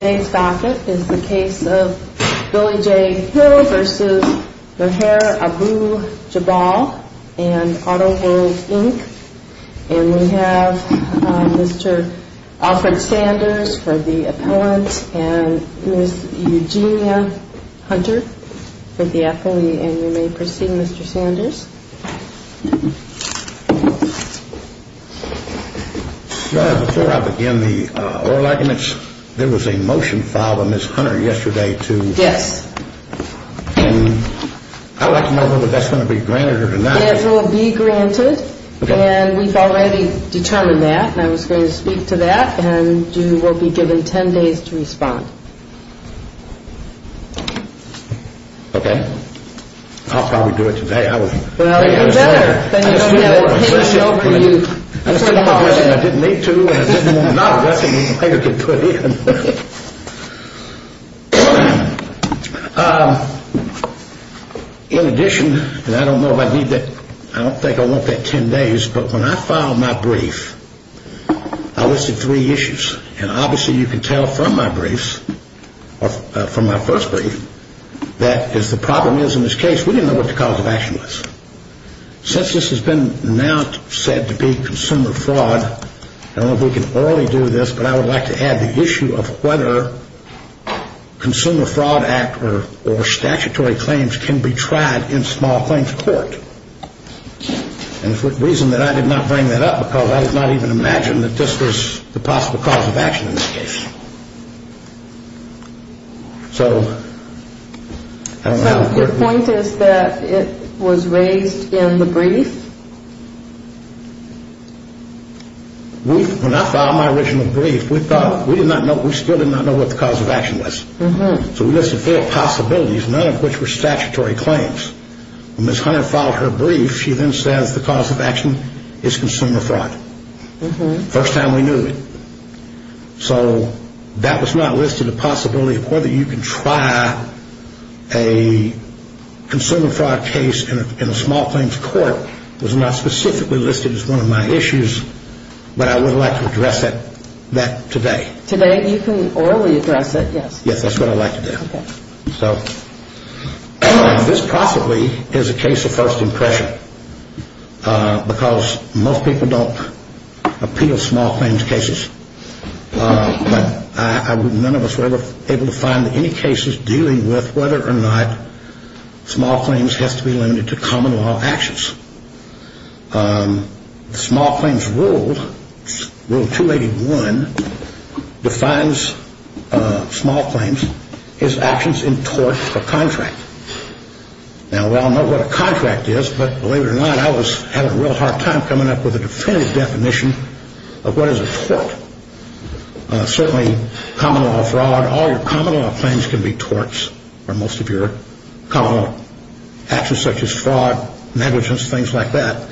Today's docket is the case of Billy J. Hill v. Meher Abou-Jabal and Auto World, Inc. And we have Mr. Alfred Sanders for the appellant and Ms. Eugenia Hunter for the appellee. And you may proceed, Mr. Sanders. Before I begin the oral arguments, there was a motion filed by Ms. Hunter yesterday to... Yes. And I'd like to know whether that's going to be granted or denied. It will be granted. Okay. And we've already determined that and I was going to speak to that and you will be given ten days to respond. Okay. I'll probably do it today. Well, you're better than you know we have a panel show for you tomorrow. I didn't need to and I didn't want nothing that Meher could put in. In addition, and I don't know if I need that, I don't think I want that ten days, but when I filed my brief, I listed three issues and obviously you can tell from my briefs, from my first brief, that as the problem is in this case, we didn't know what the cause of action was. Since this has been now said to be consumer fraud, I don't know if we can orally do this, but I would like to add the issue of whether Consumer Fraud Act or statutory claims can be tried in small claims court. And the reason that I did not bring that up because I did not even imagine that this was the possible cause of action in this case. So, I don't know. So your point is that it was raised in the brief? When I filed my original brief, we thought, we did not know, we still did not know what the cause of action was. So we listed four possibilities, none of which were statutory claims. When Ms. Hunter filed her brief, she then says the cause of action is consumer fraud. First time we knew it. So that was not listed, the possibility of whether you can try a consumer fraud case in a small claims court, was not specifically listed as one of my issues, but I would like to address that today. Today, you can orally address it, yes. Yes, that's what I'd like to do. Okay. So, this possibly is a case of first impression because most people don't appeal small claims cases. But none of us were ever able to find any cases dealing with whether or not small claims has to be limited to common law actions. Small claims rule, rule 281, defines small claims as actions in tort or contract. Now, we all know what a contract is, but believe it or not, I was having a real hard time coming up with a definitive definition of what is a tort. Certainly, common law fraud, all your common law claims can be torts, or most of your common law actions such as fraud, negligence, things like that.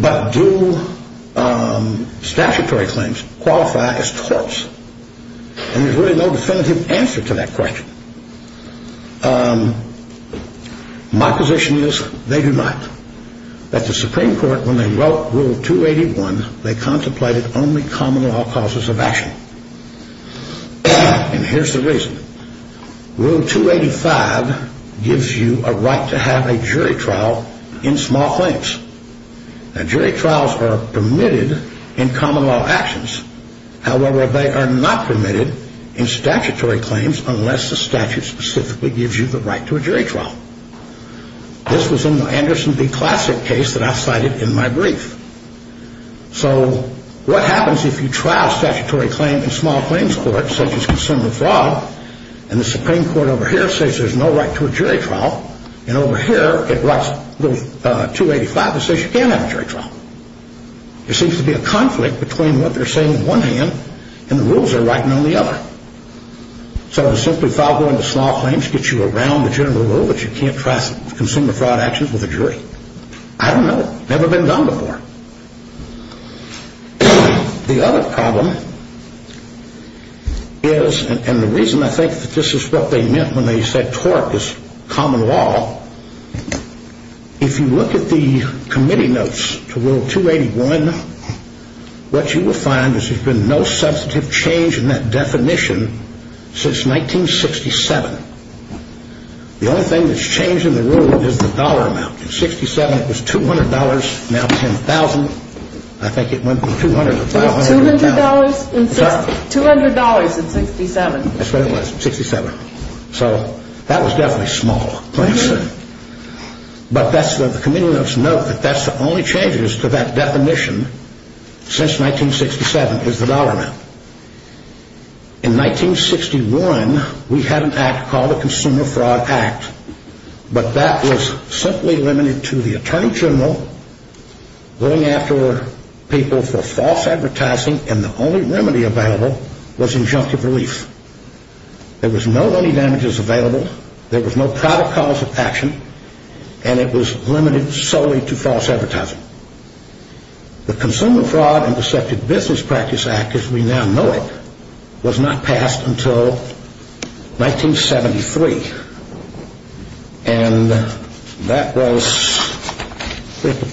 But do statutory claims qualify as torts? And there's really no definitive answer to that question. My position is they do not. At the Supreme Court, when they wrote rule 281, they contemplated only common law causes of action. And here's the reason. Rule 285 gives you a right to have a jury trial in small claims. Now, jury trials are permitted in common law actions. However, they are not permitted in statutory claims unless the statute specifically gives you the right to a jury trial. This was in the Anderson v. Classic case that I cited in my brief. So what happens if you trial a statutory claim in small claims court, such as consumer fraud, and the Supreme Court over here says there's no right to a jury trial, and over here it writes Rule 285 that says you can't have a jury trial? There seems to be a conflict between what they're saying on one hand and the rules they're writing on the other. So does simply file going to small claims get you around the general rule that you can't trial consumer fraud actions with a jury? I don't know. Never been done before. The other problem is, and the reason I think that this is what they meant when they said tort is common law, if you look at the committee notes to Rule 281, what you will find is there's been no substantive change in that definition since 1967. The only thing that's changed in the rule is the dollar amount. In 67 it was $200, now $10,000. I think it went from $200 to $1,000. $200 in 67. That's what it was, 67. So that was definitely small claims. But the committee notes note that that's the only changes to that definition since 1967 is the dollar amount. In 1961 we had an act called the Consumer Fraud Act, but that was simply limited to the Attorney General going after people for false advertising and the only remedy available was injunctive relief. There was no money damages available, there was no probable cause of action, and it was limited solely to false advertising. The Consumer Fraud and Deceptive Business Practice Act as we now know it was not passed until 1973, and that was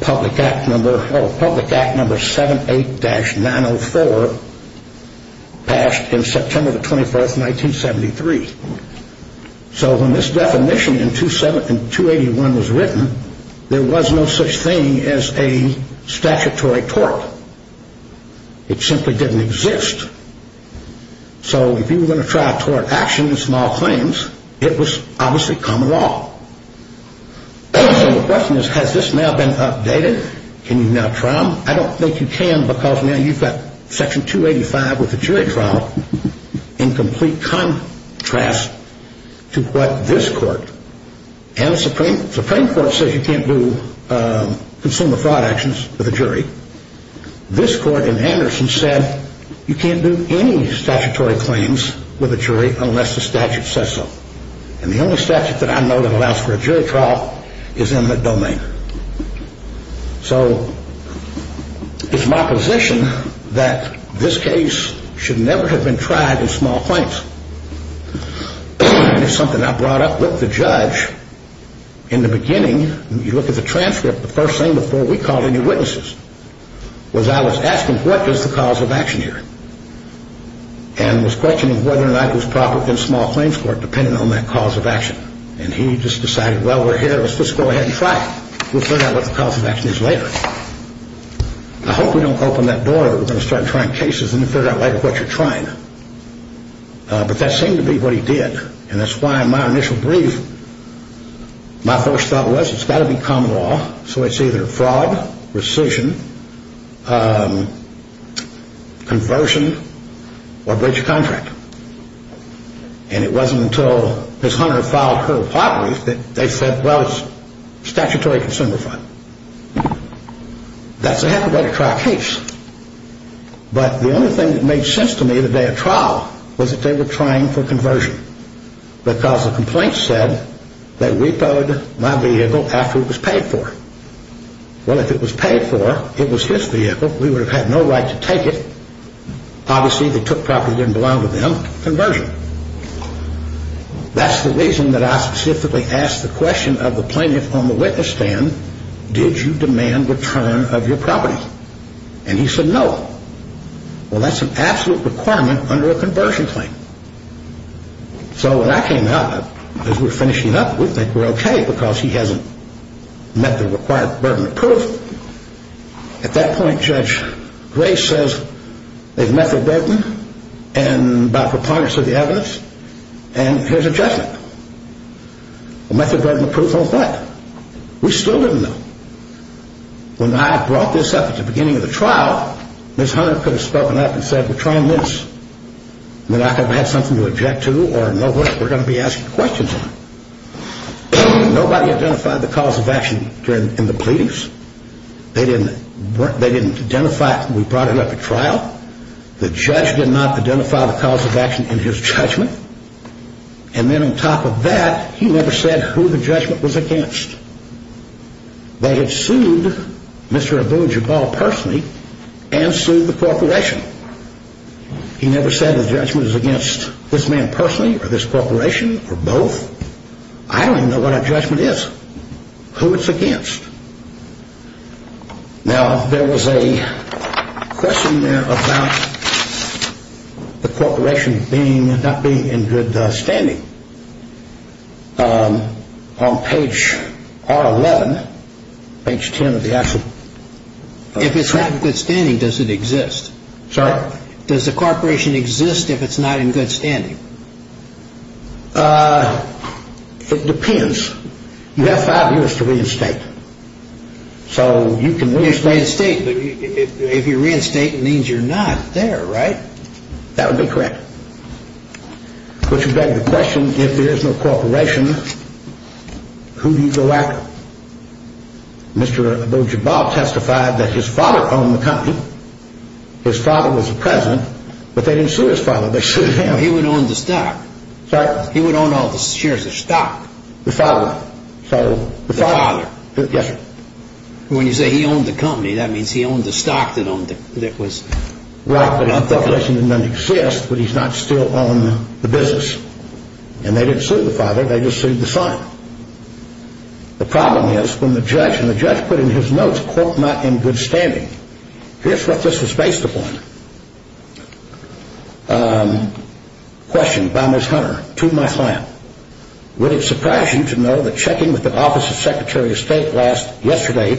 Public Act number 78-904 passed in September the 24th, 1973. So when this definition in 281 was written, there was no such thing as a statutory tort. It simply didn't exist. So if you were going to try a tort action in small claims, it was obviously common law. So the question is, has this now been updated? Can you now trial? I don't think you can because now you've got Section 285 with the jury trial in complete contrast to what this court and the Supreme Court says you can't do consumer fraud actions with a jury. This court in Anderson said you can't do any statutory claims with a jury unless the statute says so. And the only statute that I know that allows for a jury trial is eminent domain. So it's my position that this case should never have been tried in small claims. It's something I brought up with the judge in the beginning. You look at the transcript. The first thing before we called any witnesses was I was asking what is the cause of action here and was questioning whether or not it was probable in small claims court depending on that cause of action. And he just decided, well, let's go ahead and try it. We'll figure out what the cause of action is later. I hope we don't open that door and start trying cases and figure out later what you're trying. But that seemed to be what he did. And that's why my initial brief, my first thought was it's got to be common law. So it's either fraud, rescission, conversion, or breach of contract. And it wasn't until Ms. Hunter filed her properties that they said, well, it's statutory consumer fraud. That's a happy way to try a case. But the only thing that made sense to me the day of trial was that they were trying for conversion because the complaint said they repoed my vehicle after it was paid for. Well, if it was paid for, it was his vehicle. We would have had no right to take it. Obviously, they took property that didn't belong to them. Conversion. That's the reason that I specifically asked the question of the plaintiff on the witness stand, did you demand return of your property? And he said no. Well, that's an absolute requirement under a conversion claim. So when I came out, as we're finishing up, we think we're okay because he hasn't met the required burden of proof. At that point, Judge Gray says they've met the burden and by preponderance of the evidence, and here's a judgment. Well, method burden of proof won't cut it. We still didn't know. When I brought this up at the beginning of the trial, Ms. Hunter could have spoken up and said, we're trying this and we're not going to have something to object to or know what we're going to be asking questions on. Nobody identified the cause of action in the pleadings. They didn't identify it when we brought it up at trial. The judge did not identify the cause of action in his judgment. And then on top of that, he never said who the judgment was against. They had sued Mr. Abu Jabal personally and sued the corporation. He never said the judgment was against this man personally or this corporation or both. I don't even know what a judgment is, who it's against. Now, there was a question there about the corporation not being in good standing. On page R11, page 10 of the action. If it's not in good standing, does it exist? Sorry? Does the corporation exist if it's not in good standing? It depends. You have five years to reinstate. So you can reinstate. If you reinstate, it means you're not there, right? That would be correct. But you beg the question, if there is no corporation, who do you go after? Mr. Abu Jabal testified that his father owned the company. His father was the president, but they didn't sue his father. They sued him. He would own the stock. Sorry? He would own all the shares of stock. The father. The father. Yes, sir. When you say he owned the company, that means he owned the stock that owned it. I'm speculating that none exist, but he's not still on the business. And they didn't sue the father. They just sued the son. The problem is when the judge, and the judge put in his notes, quote, not in good standing. Here's what this was based upon. Question by Ms. Hunter to my client. Would it surprise you to know that checking with the Office of Secretary of State last yesterday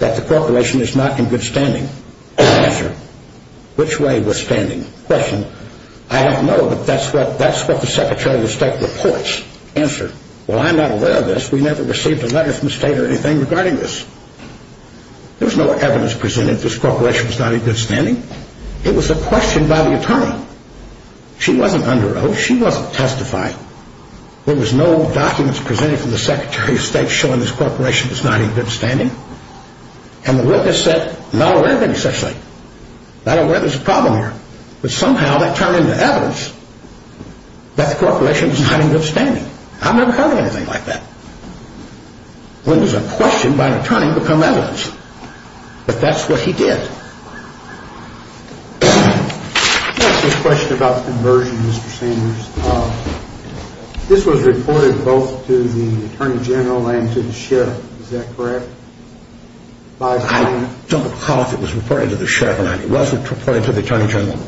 that the corporation is not in good standing? Answer. Which way was standing? Question. I don't know, but that's what the Secretary of State reports. Answer. Well, I'm not aware of this. We never received a letter from the state or anything regarding this. There was no evidence presented that this corporation was not in good standing. It was a question by the attorney. She wasn't under oath. She wasn't testifying. There was no documents presented from the Secretary of State showing this corporation was not in good standing. And the witness said, not aware of any such thing. Not aware there's a problem here. But somehow that turned into evidence that the corporation was not in good standing. I've never heard anything like that. When does a question by an attorney become evidence? But that's what he did. I have a question about the conversion, Mr. Sanders. This was reported both to the Attorney General and to the Sheriff. Is that correct? I don't recall if it was reported to the Sheriff or not. It wasn't reported to the Attorney General.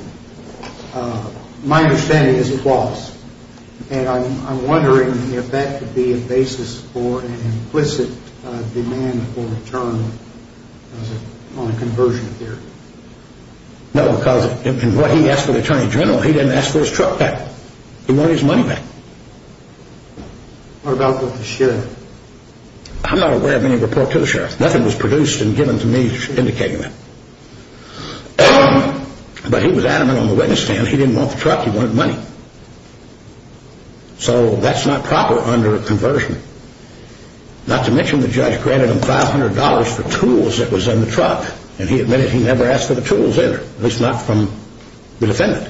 My understanding is it was. And I'm wondering if that could be a basis for an implicit demand for return on a conversion theory. No, because in what he asked of the Attorney General, he didn't ask for his truck back. He wanted his money back. What about with the Sheriff? I'm not aware of any report to the Sheriff. Nothing was produced and given to me indicating that. But he was adamant on the witness stand. He said he didn't want the truck. He wanted money. So that's not proper under a conversion. Not to mention the judge granted him $500 for tools that was in the truck. And he admitted he never asked for the tools there, at least not from the defendant.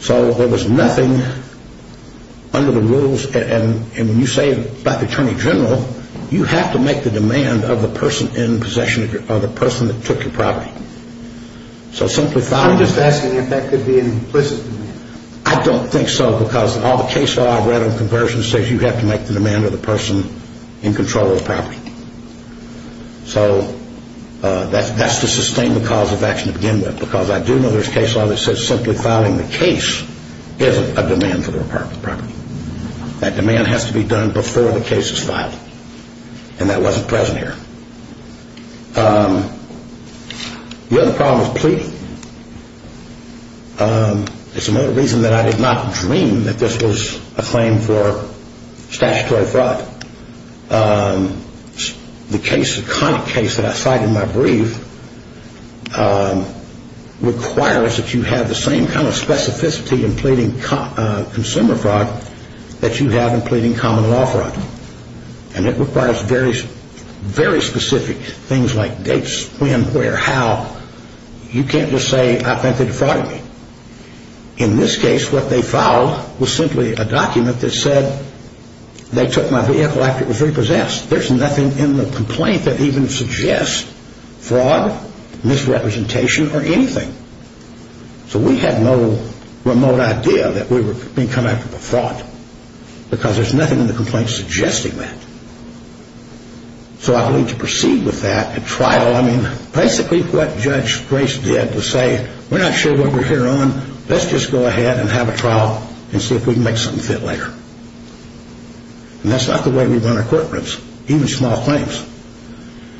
So there was nothing under the rules. And when you say it about the Attorney General, you have to make the demand of the person in possession or the person that took your property. I'm just asking if that could be an implicit demand. I don't think so, because all the case law I've read on conversion says you have to make the demand of the person in control of the property. So that's to sustain the cause of action to begin with. Because I do know there's case law that says simply filing the case is a demand for the property. That demand has to be done before the case is filed. And that wasn't present here. The other problem is pleading. It's another reason that I did not dream that this was a claim for statutory fraud. The case, the kind of case that I cite in my brief, requires that you have the same kind of specificity in pleading consumer fraud that you have in pleading common law fraud. And it requires very specific things like dates, when, where, how. You can't just say, I think they defrauded me. In this case, what they filed was simply a document that said they took my vehicle after it was repossessed. There's nothing in the complaint that even suggests fraud, misrepresentation, or anything. So we had no remote idea that we were being come after for fraud. Because there's nothing in the complaint suggesting that. So I believe to proceed with that, a trial, I mean, basically what Judge Grace did was say, we're not sure what we're here on, let's just go ahead and have a trial and see if we can make something fit later. And that's not the way we run our courtrooms, even small claims.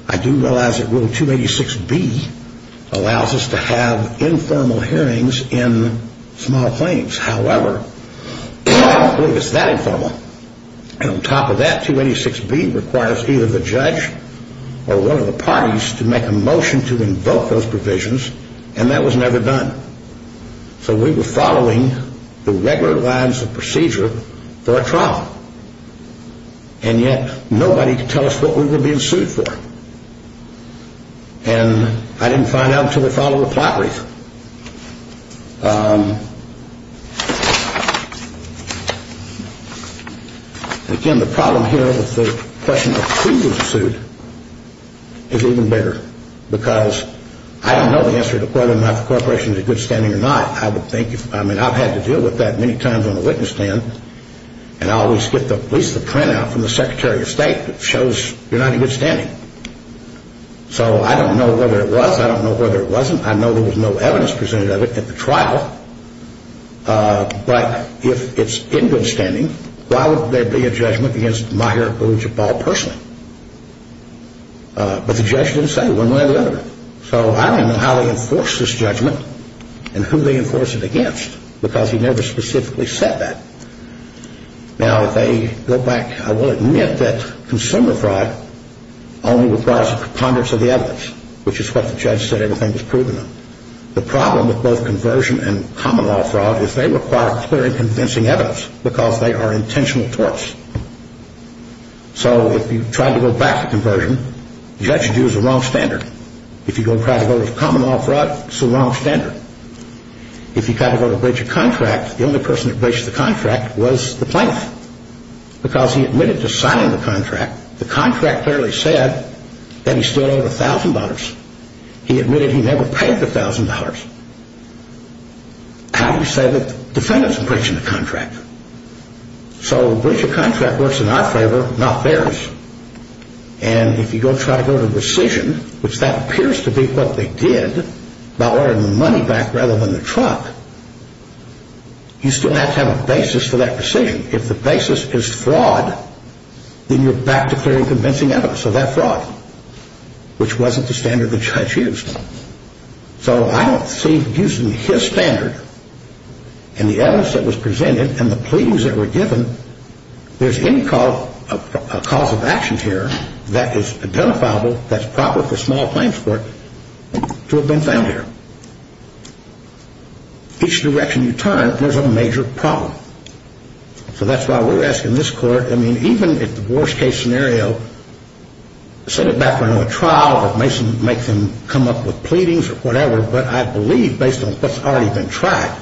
I do realize that Rule 286B allows us to have informal hearings in small claims. However, I don't believe it's that informal. And on top of that, 286B requires either the judge or one of the parties to make a motion to invoke those provisions. And that was never done. So we were following the regular lines of procedure for a trial. And yet, nobody could tell us what we were being sued for. And I didn't find out until we followed the plot brief. Again, the problem here with the question of who was sued is even bigger. Because I don't know the answer to whether my corporation is in good standing or not. I would think, I mean, I've had to deal with that many times on the witness stand. And I always get at least the printout from the Secretary of State that shows you're not in good standing. So I don't know whether it was, I don't know whether it wasn't. I know there was no evidence presented of it at the trial. But if it's in good standing, why would there be a judgment against Maher or Jabal personally? But the judge didn't say one way or the other. So I don't know how they enforced this judgment and who they enforced it against, because he never specifically said that. Now, if they go back, I will admit that consumer fraud only requires a preponderance of the evidence, which is what the judge said everything was proven of. The problem with both conversion and common law fraud is they require clear and convincing evidence, because they are intentional torts. So if you try to go back to conversion, the judge will use the wrong standard. If you try to go to common law fraud, it's the wrong standard. If you try to go to breach a contract, the only person that breached the contract was the plaintiff, because he admitted to signing the contract. The contract clearly said that he still owed $1,000. He admitted he never paid the $1,000. How do you say that the defendant is breaching the contract? So breach a contract works in our favor, not theirs. And if you go try to go to rescission, which that appears to be what they did, by lowering the money back rather than the truck, you still have to have a basis for that rescission. If the basis is fraud, then you're back to clear and convincing evidence of that fraud, which wasn't the standard the judge used. So I don't see using his standard, and the evidence that was presented, and the pleadings that were given, there's any cause of action here that is identifiable, that's proper for small claims court, to have been found here. Each direction you turn, there's a major problem. So that's why we're asking this court, I mean, even if the worst case scenario, send it back for another trial, or Mason makes them come up with pleadings or whatever, but I believe based on what's already been tried,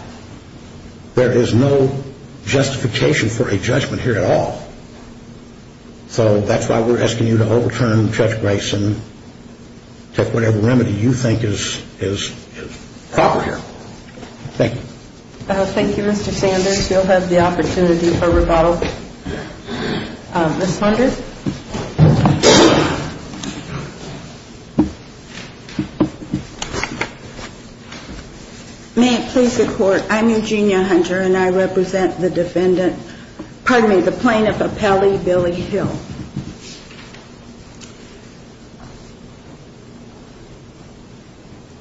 there is no justification for a judgment here at all. So that's why we're asking you to overturn Judge Grayson, take whatever remedy you think is proper here. Thank you. Thank you, Mr. Sanders. You'll have the opportunity for rebuttal. Ms. Hunter. May it please the court, I'm Eugenia Hunter, and I represent the defendant, pardon me, the plaintiff, Appellee Billy Hill.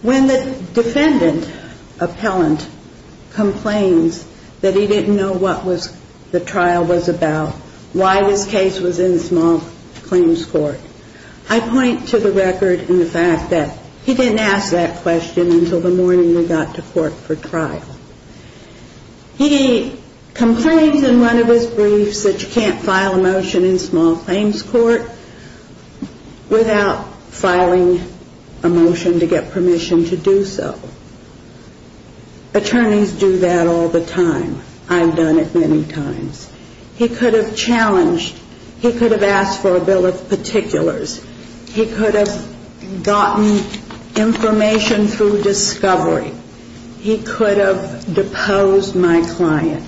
When the defendant, appellant, complains that he didn't know what the trial was about, why this case was in small claims court, I point to the record and the fact that he didn't ask that question until the morning we got to court for trial. He complains in one of his briefs that you can't file a motion in small claims court, without filing a motion to get permission to do so. Attorneys do that all the time. I've done it many times. He could have challenged, he could have asked for a bill of particulars. He could have gotten information through discovery. He could have deposed my client.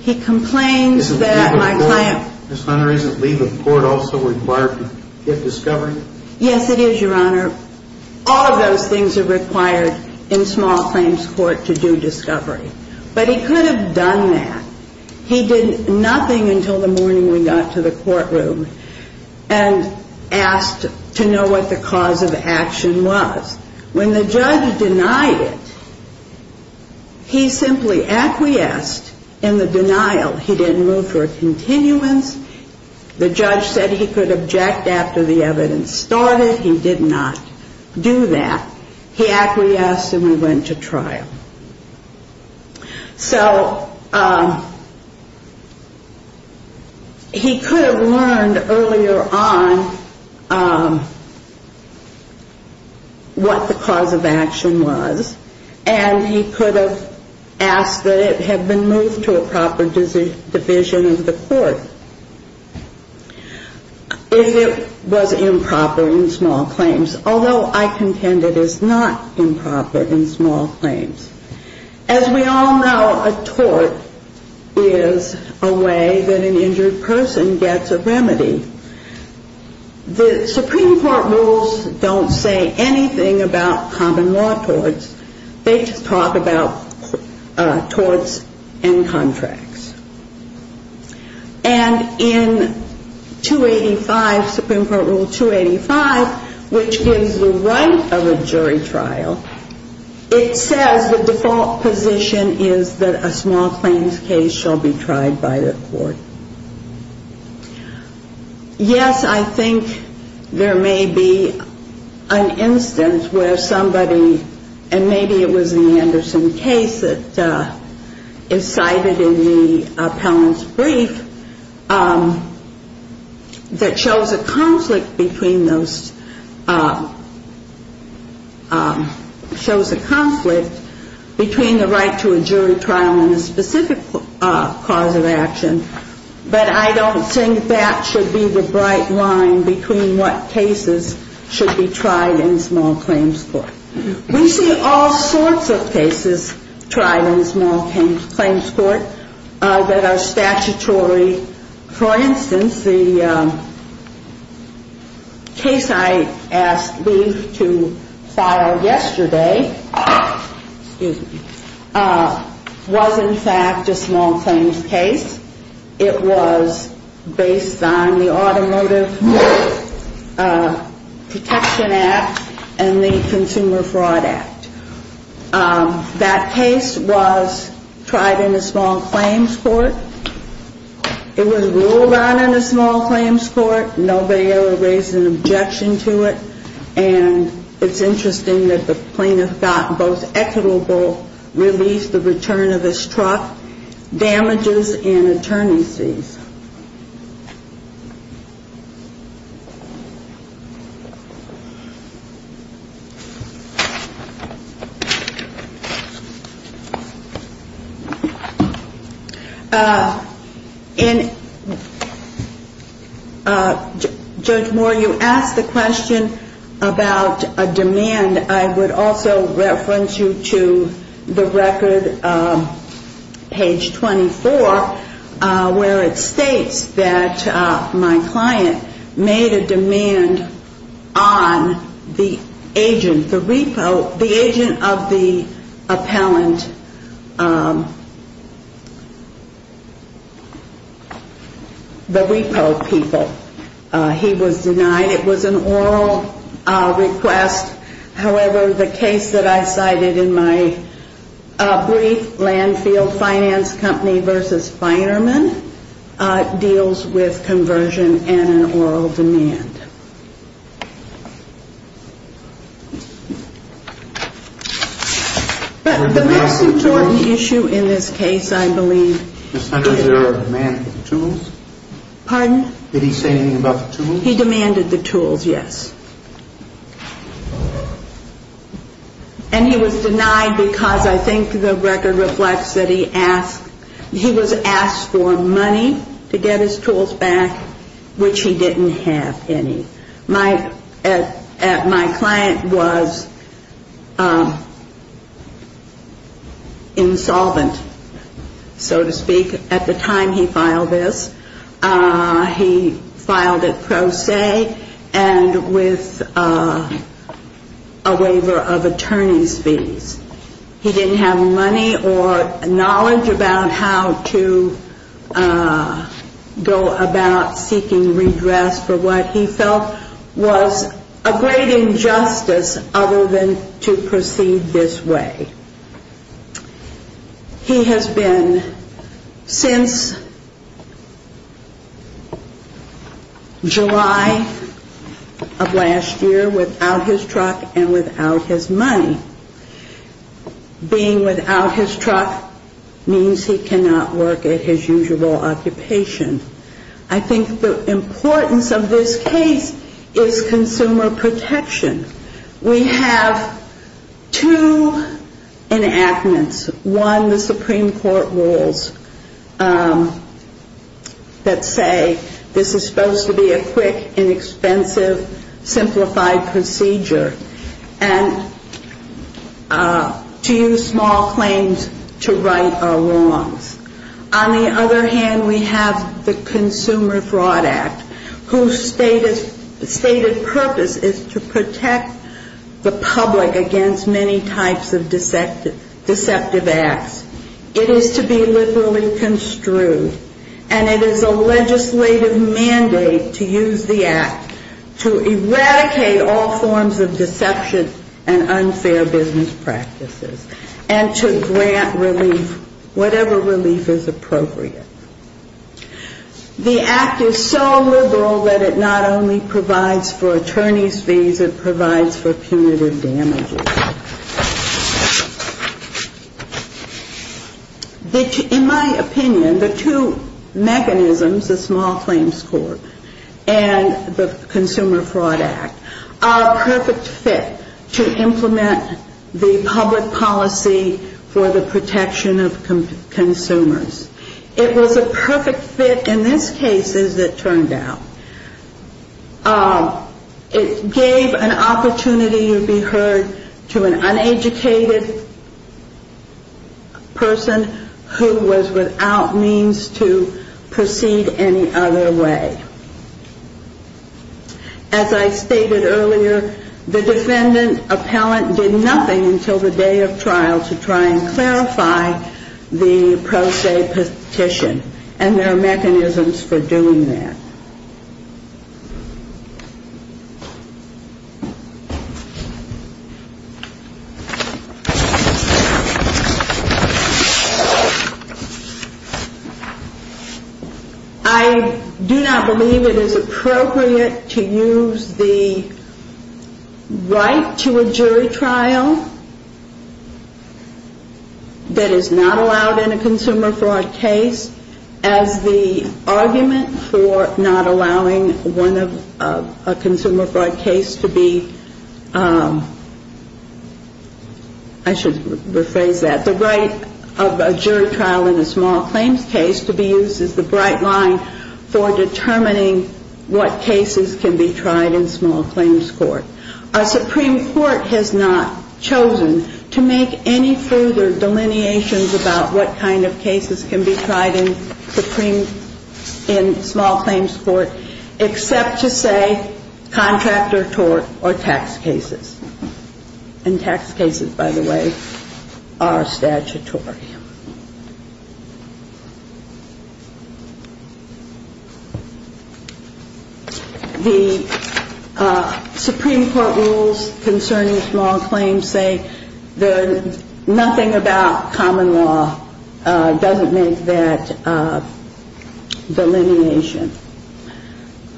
He complains that my client... Ms. Hunter, isn't leave of court also required to get discovery? Yes, it is, Your Honor. All of those things are required in small claims court to do discovery. But he could have done that. He did nothing until the morning we got to the courtroom and asked to know what the cause of action was. When the judge denied it, he simply acquiesced in the denial. He didn't move for a continuance. The judge said he could object after the evidence started. He did not do that. So he could have learned earlier on what the cause of action was and he could have asked that it had been moved to a proper division of the court if it was improper in small claims. Although I contend it is not improper in small claims. As we all know, a tort is a way that an injured person gets a remedy. The Supreme Court rules don't say anything about common law torts. They just talk about torts and contracts. And in 285, Supreme Court Rule 285, which gives the right of a jury trial, it says the default position is that a small claims case shall be tried by the court. Yes, I think there may be an instance where somebody, and maybe it was the Anderson case that is cited in the appellant's brief, that shows a conflict between those, shows a conflict between the right to a jury trial and a specific cause of action. But I don't think that should be the bright line between what cases should be tried in small claims court. We see all sorts of cases tried in small claims court that are statutory. For instance, the case I asked Lief to file yesterday was in fact a small claims case. It was based on the Automotive Protection Act and the Consumer Fraud Act. That case was tried in a small claims court. It was ruled on in a small claims court. Nobody ever raised an objection to it. And it's interesting that the plaintiff got both equitable release, the return of his truck, damages and attorney's fees. Judge Moore, you asked the question about a demand. And I would also reference you to the record, page 24, where it states that my client made a demand on the agent, the repo, the agent of the appellant, the repo people. He was denied. It was an oral request. However, the case that I cited in my brief, Landfield Finance Company v. Feinerman, deals with conversion and an oral demand. But the most important issue in this case, I believe, is the demand for the tools. Pardon? Did he say anything about the tools? He demanded the tools, yes. And he was denied because I think the record reflects that he asked, he was asked for money to get his tools back, which he didn't have any. My client was insolvent, so to speak, at the time he filed this. He filed it pro se and with a waiver of attorney's fees. He didn't have money or knowledge about how to go about seeking redress for what he felt was a great injustice other than to proceed this way. He has been since July of last year without his truck and without his money. Being without his truck means he cannot work at his usual occupation. I think the importance of this case is consumer protection. We have two enactments. One, the Supreme Court rules that say this is supposed to be a quick, inexpensive, simplified procedure and to use small claims to right our wrongs. On the other hand, we have the Consumer Fraud Act, whose stated purpose is to protect the public against many types of deceptive acts. It is to be liberally construed, and it is a legislative mandate to use the act to eradicate all forms of deception and unfair business practices and to grant relief, whatever relief is appropriate. The act is so liberal that it not only provides for attorney's fees, it provides for punitive damages. In my opinion, the two mechanisms, the Small Claims Court and the Consumer Fraud Act, are a perfect fit to implement the public policy for the protection of consumers. It was a perfect fit in this case, as it turned out. It gave an opportunity to be heard to an uneducated person who was without means to proceed any other way. As I stated earlier, the defendant appellant did nothing until the day of trial to try and clarify the pro se petition, and there are mechanisms for doing that. I do not believe it is appropriate to use the right to a jury trial that is not allowed in a consumer fraud case as the argument for not allowing one of a consumer fraud case. I should rephrase that. The right of a jury trial in a small claims case to be used as the bright line for determining what cases can be tried in small claims court. Our Supreme Court has not chosen to make any further delineations about what kind of cases can be tried in small claims court, except to say contractor tort or tax cases. And tax cases, by the way, are statutory. The Supreme Court rules concerning small claims say nothing about common law doesn't make that delineation.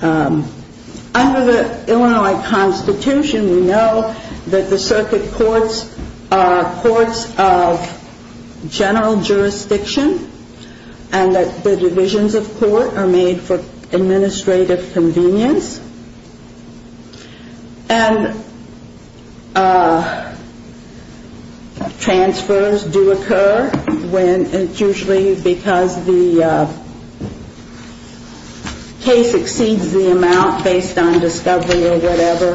Under the Illinois Constitution, we know that the circuit courts are courts of general jurisdiction, and that the divisions of court are made for administrative convenience. And transfers do occur when it's usually because the case exceeds the amount based on discovery or whatever,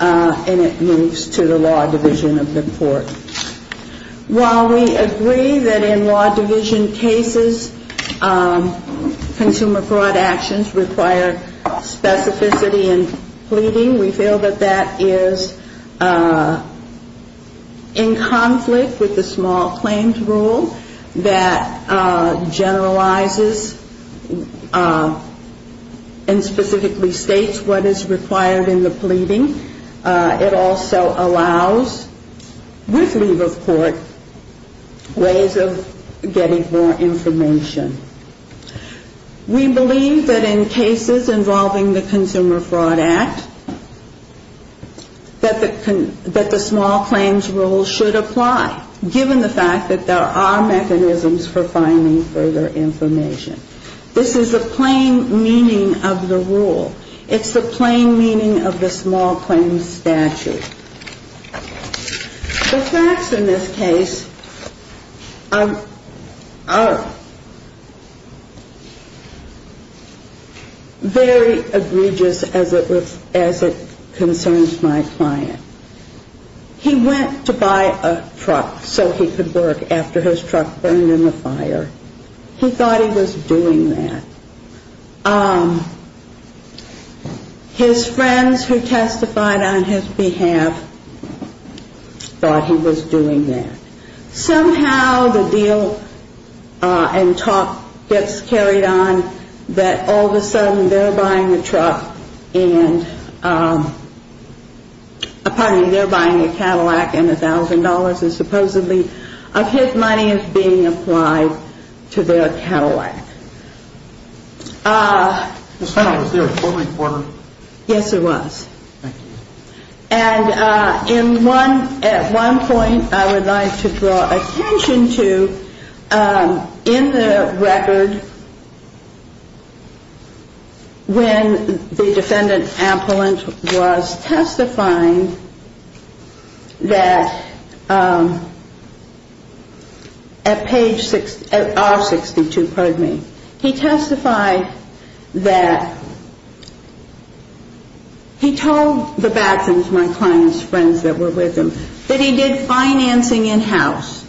and it moves to the law division of the court. While we agree that in law division cases, consumer fraud actions require specificity in pleading, we feel that that is in conflict with the small claims rule that generalizes and specifically states what is required in the pleading. It also allows, with leave of court, ways of getting more information. We believe that in cases involving the Consumer Fraud Act, that the small claims rule should apply, given the fact that there are mechanisms for finding further information. This is the plain meaning of the rule. It's the plain meaning of the small claims statute. The facts in this case are very egregious as it concerns my client. He went to buy a truck so he could work after his truck burned in the fire. He thought he was doing that. His friends who testified on his behalf thought he was doing that. Somehow the deal and talk gets carried on until they find out that all of a sudden they're buying a truck, pardon me, they're buying a Cadillac and $1,000 is supposedly of his money is being applied to their Cadillac. Yes, it was. And at one point I would like to draw attention to in the record when the defendant was testifying that at page 62, pardon me, he testified that he told the Badgins, my client's friends that were with him, that he did financing in-house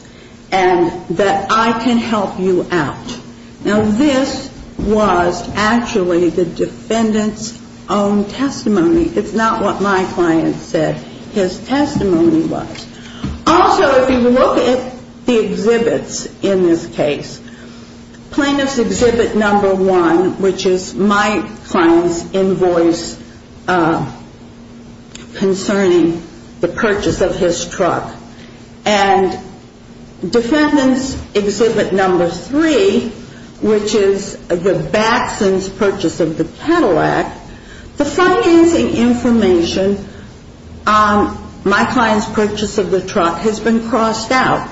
and that I can help you out. Now this was actually the defendant's own testimony. It's not what my client said his testimony was. Also if you look at the exhibits in this case, plaintiff's exhibit number one, which is my client's invoice concerning the purchase of his truck, and defendant's exhibit number three, which is the Badgins' purchase of the Cadillac, the financing information on my client's purchase of the truck has been crossed out.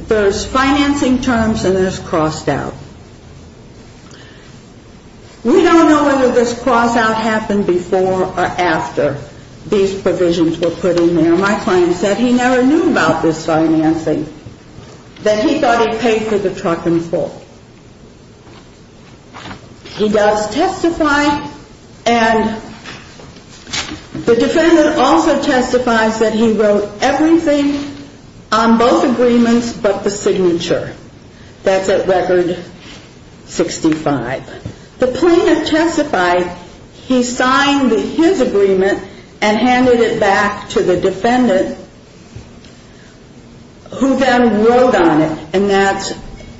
There's financing terms and there's crossed out. We don't know whether this cross out happened before or after these provisions were put in there. My client said he never knew about this financing, that he thought he paid for the truck in full. He does testify and the defendant also testifies that he wrote everything on both agreements but the signature. That's at record 65. The plaintiff testified he signed his agreement and handed it back to the defendant who then wrote on it and that's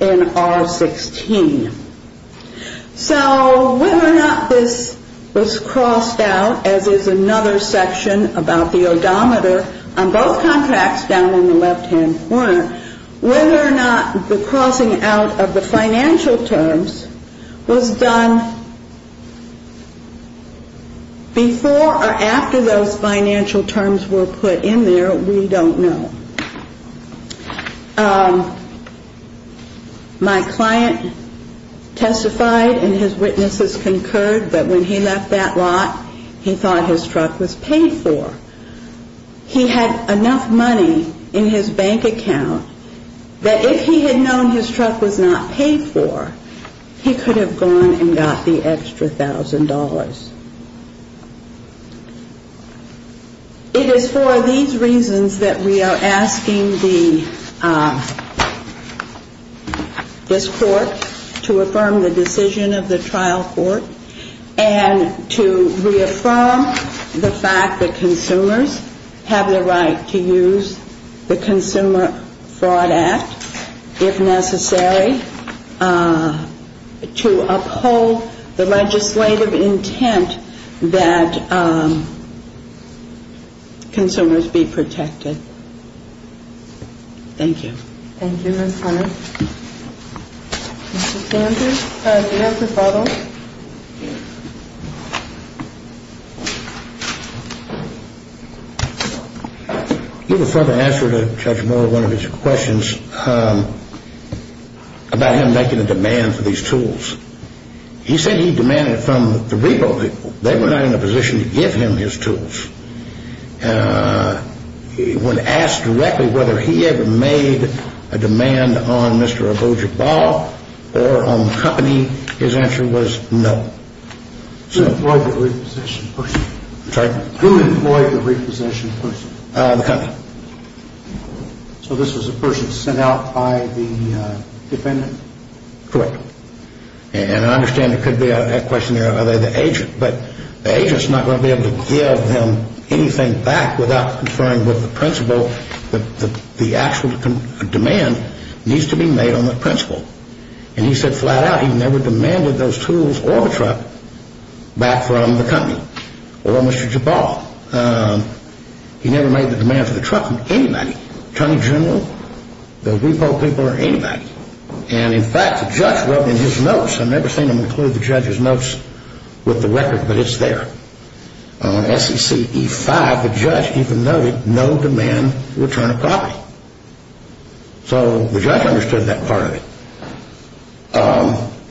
in R16. So whether or not this was crossed out as is another section about the odometer on both contracts down in the left hand corner, whether or not the crossing out of the financial terms was done before or after those financial terms were put in there, we don't know. My client testified and his witnesses concurred that when he left that lot, he thought his truck was paid for. He had enough money in his bank account that if he had known his truck was not paid for, he could have gone and got the extra thousand dollars. It is for these reasons that we are asking this court to affirm the decision of the trial court and to reaffirm the fact that consumers have the right to use the Consumer Fraud Act if necessary to uphold the legislative intent that consumers be protected. Thank you. Do you have a further answer to Judge Moore, one of his questions about him making a demand for these tools? He said he demanded from the repo people. They were not in a position to give him his tools. When asked directly whether he ever made a demand on Mr. Abuja Ball or on the company, his answer was no. Who employed the repossession person? So this was a person sent out by the defendant? Correct. I understand it could be a question of the agent, but the agent is not going to be able to give him anything back without conferring with the principal that the actual demand needs to be made on the principal. He said flat out he never demanded those tools or the truck back from the company or Mr. Jabal. He never made the demand for the truck from anybody. Attorney General, the repo people, or anybody. And in fact, the judge wrote in his notes. I've never seen him include the judge's notes with the record, but it's there. On SEC E5, the judge even noted no demand to return a property. So the judge understood that part of it.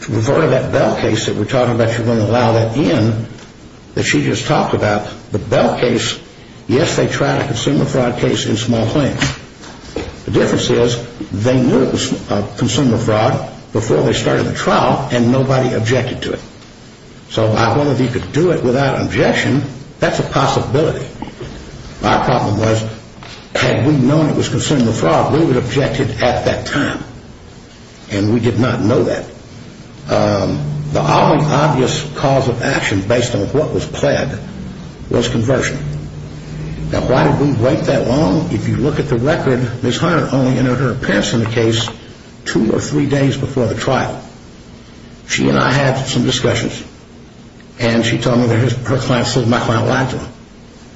To refer to that Bell case that we're talking about, if you're going to allow that in, that she just talked about, the Bell case, yes, they tried a consumer fraud case in small claims. The difference is they knew it was consumer fraud before they started the trial, and nobody objected to it. So if I wanted you to do it without objection, that's a possibility. My problem was, had we known it was consumer fraud, we would have objected at that time. And we did not know that. The only obvious cause of action based on what was pled was conversion. Now, why did we wait that long? If you look at the record, Ms. Hunter only entered her appearance in the case two or three days before the trial. She and I had some discussions, and she told me that her client said my client lied to her.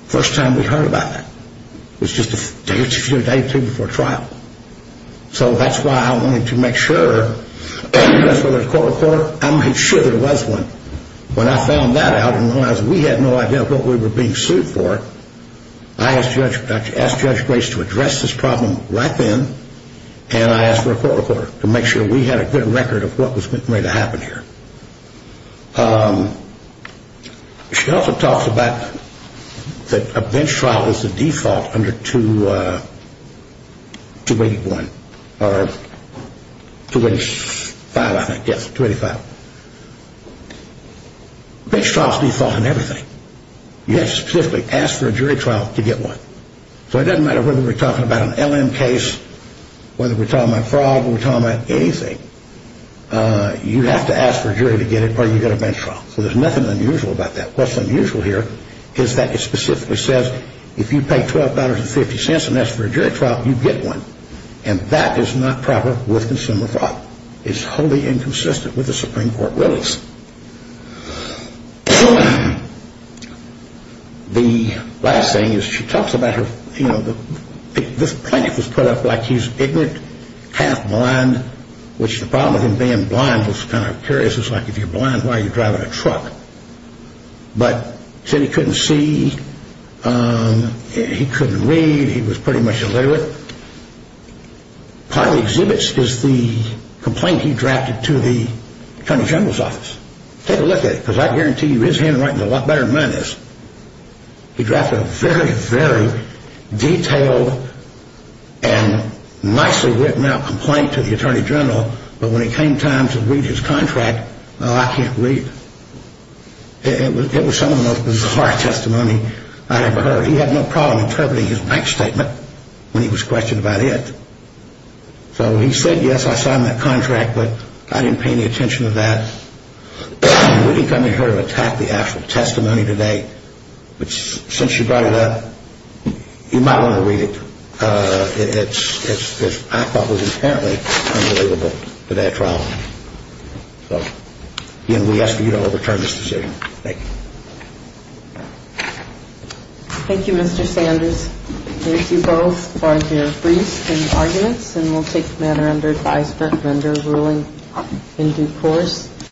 First time we heard about that. It was just a day or two before trial. So that's why I wanted to make sure, whether it was a court-of-court, I made sure there was one. When I found that out and realized we had no idea what we were being sued for, I asked Judge Grace to address this problem right then, and I asked for a court-of-court to make sure we had a good record of what was going to happen here. She also talks about that a bench trial is the default under 281, or 285, I think. Yes, 285. Bench trials are the default in everything. You have to specifically ask for a jury trial to get one. So it doesn't matter whether we're talking about an LM case, whether we're talking about fraud, whether we're talking about anything, you have to ask for a jury to get it or you get a bench trial. So there's nothing unusual about that. What's unusual here is that it specifically says if you pay $12.50 and ask for a jury trial, you get one. And that is not proper with consumer fraud. It's wholly inconsistent with the Supreme Court rulings. The last thing is she talks about her, you know, this plaintiff was put up like he's ignorant, half-blind, which the problem with him being blind was kind of curious. It's like if you're blind, why are you driving a truck? But said he couldn't see, he couldn't read, he was pretty much illiterate. Part of the exhibits is the complaint he drafted to the Attorney General's office. Take a look at it, because I guarantee you his handwriting is a lot better than mine is. He drafted a very, very detailed and nicely written out complaint to the Attorney General, but when it came time to read his contract, oh, I can't read it. It was some of the most bizarre testimony I ever heard. He had no problem interpreting his bank statement when he was questioned about it. So he said, yes, I signed that contract, but I didn't pay any attention to that. We didn't come here to attack the actual testimony today, but since you brought it up, you might want to read it. It's, I thought, was apparently unbelievable to that trial. So, again, we ask that you don't overturn this decision. Thank you. Thank you, Mr. Sanders. Thank you both for your briefs and arguments, and we'll take the matter under advice for a vendor ruling in due course.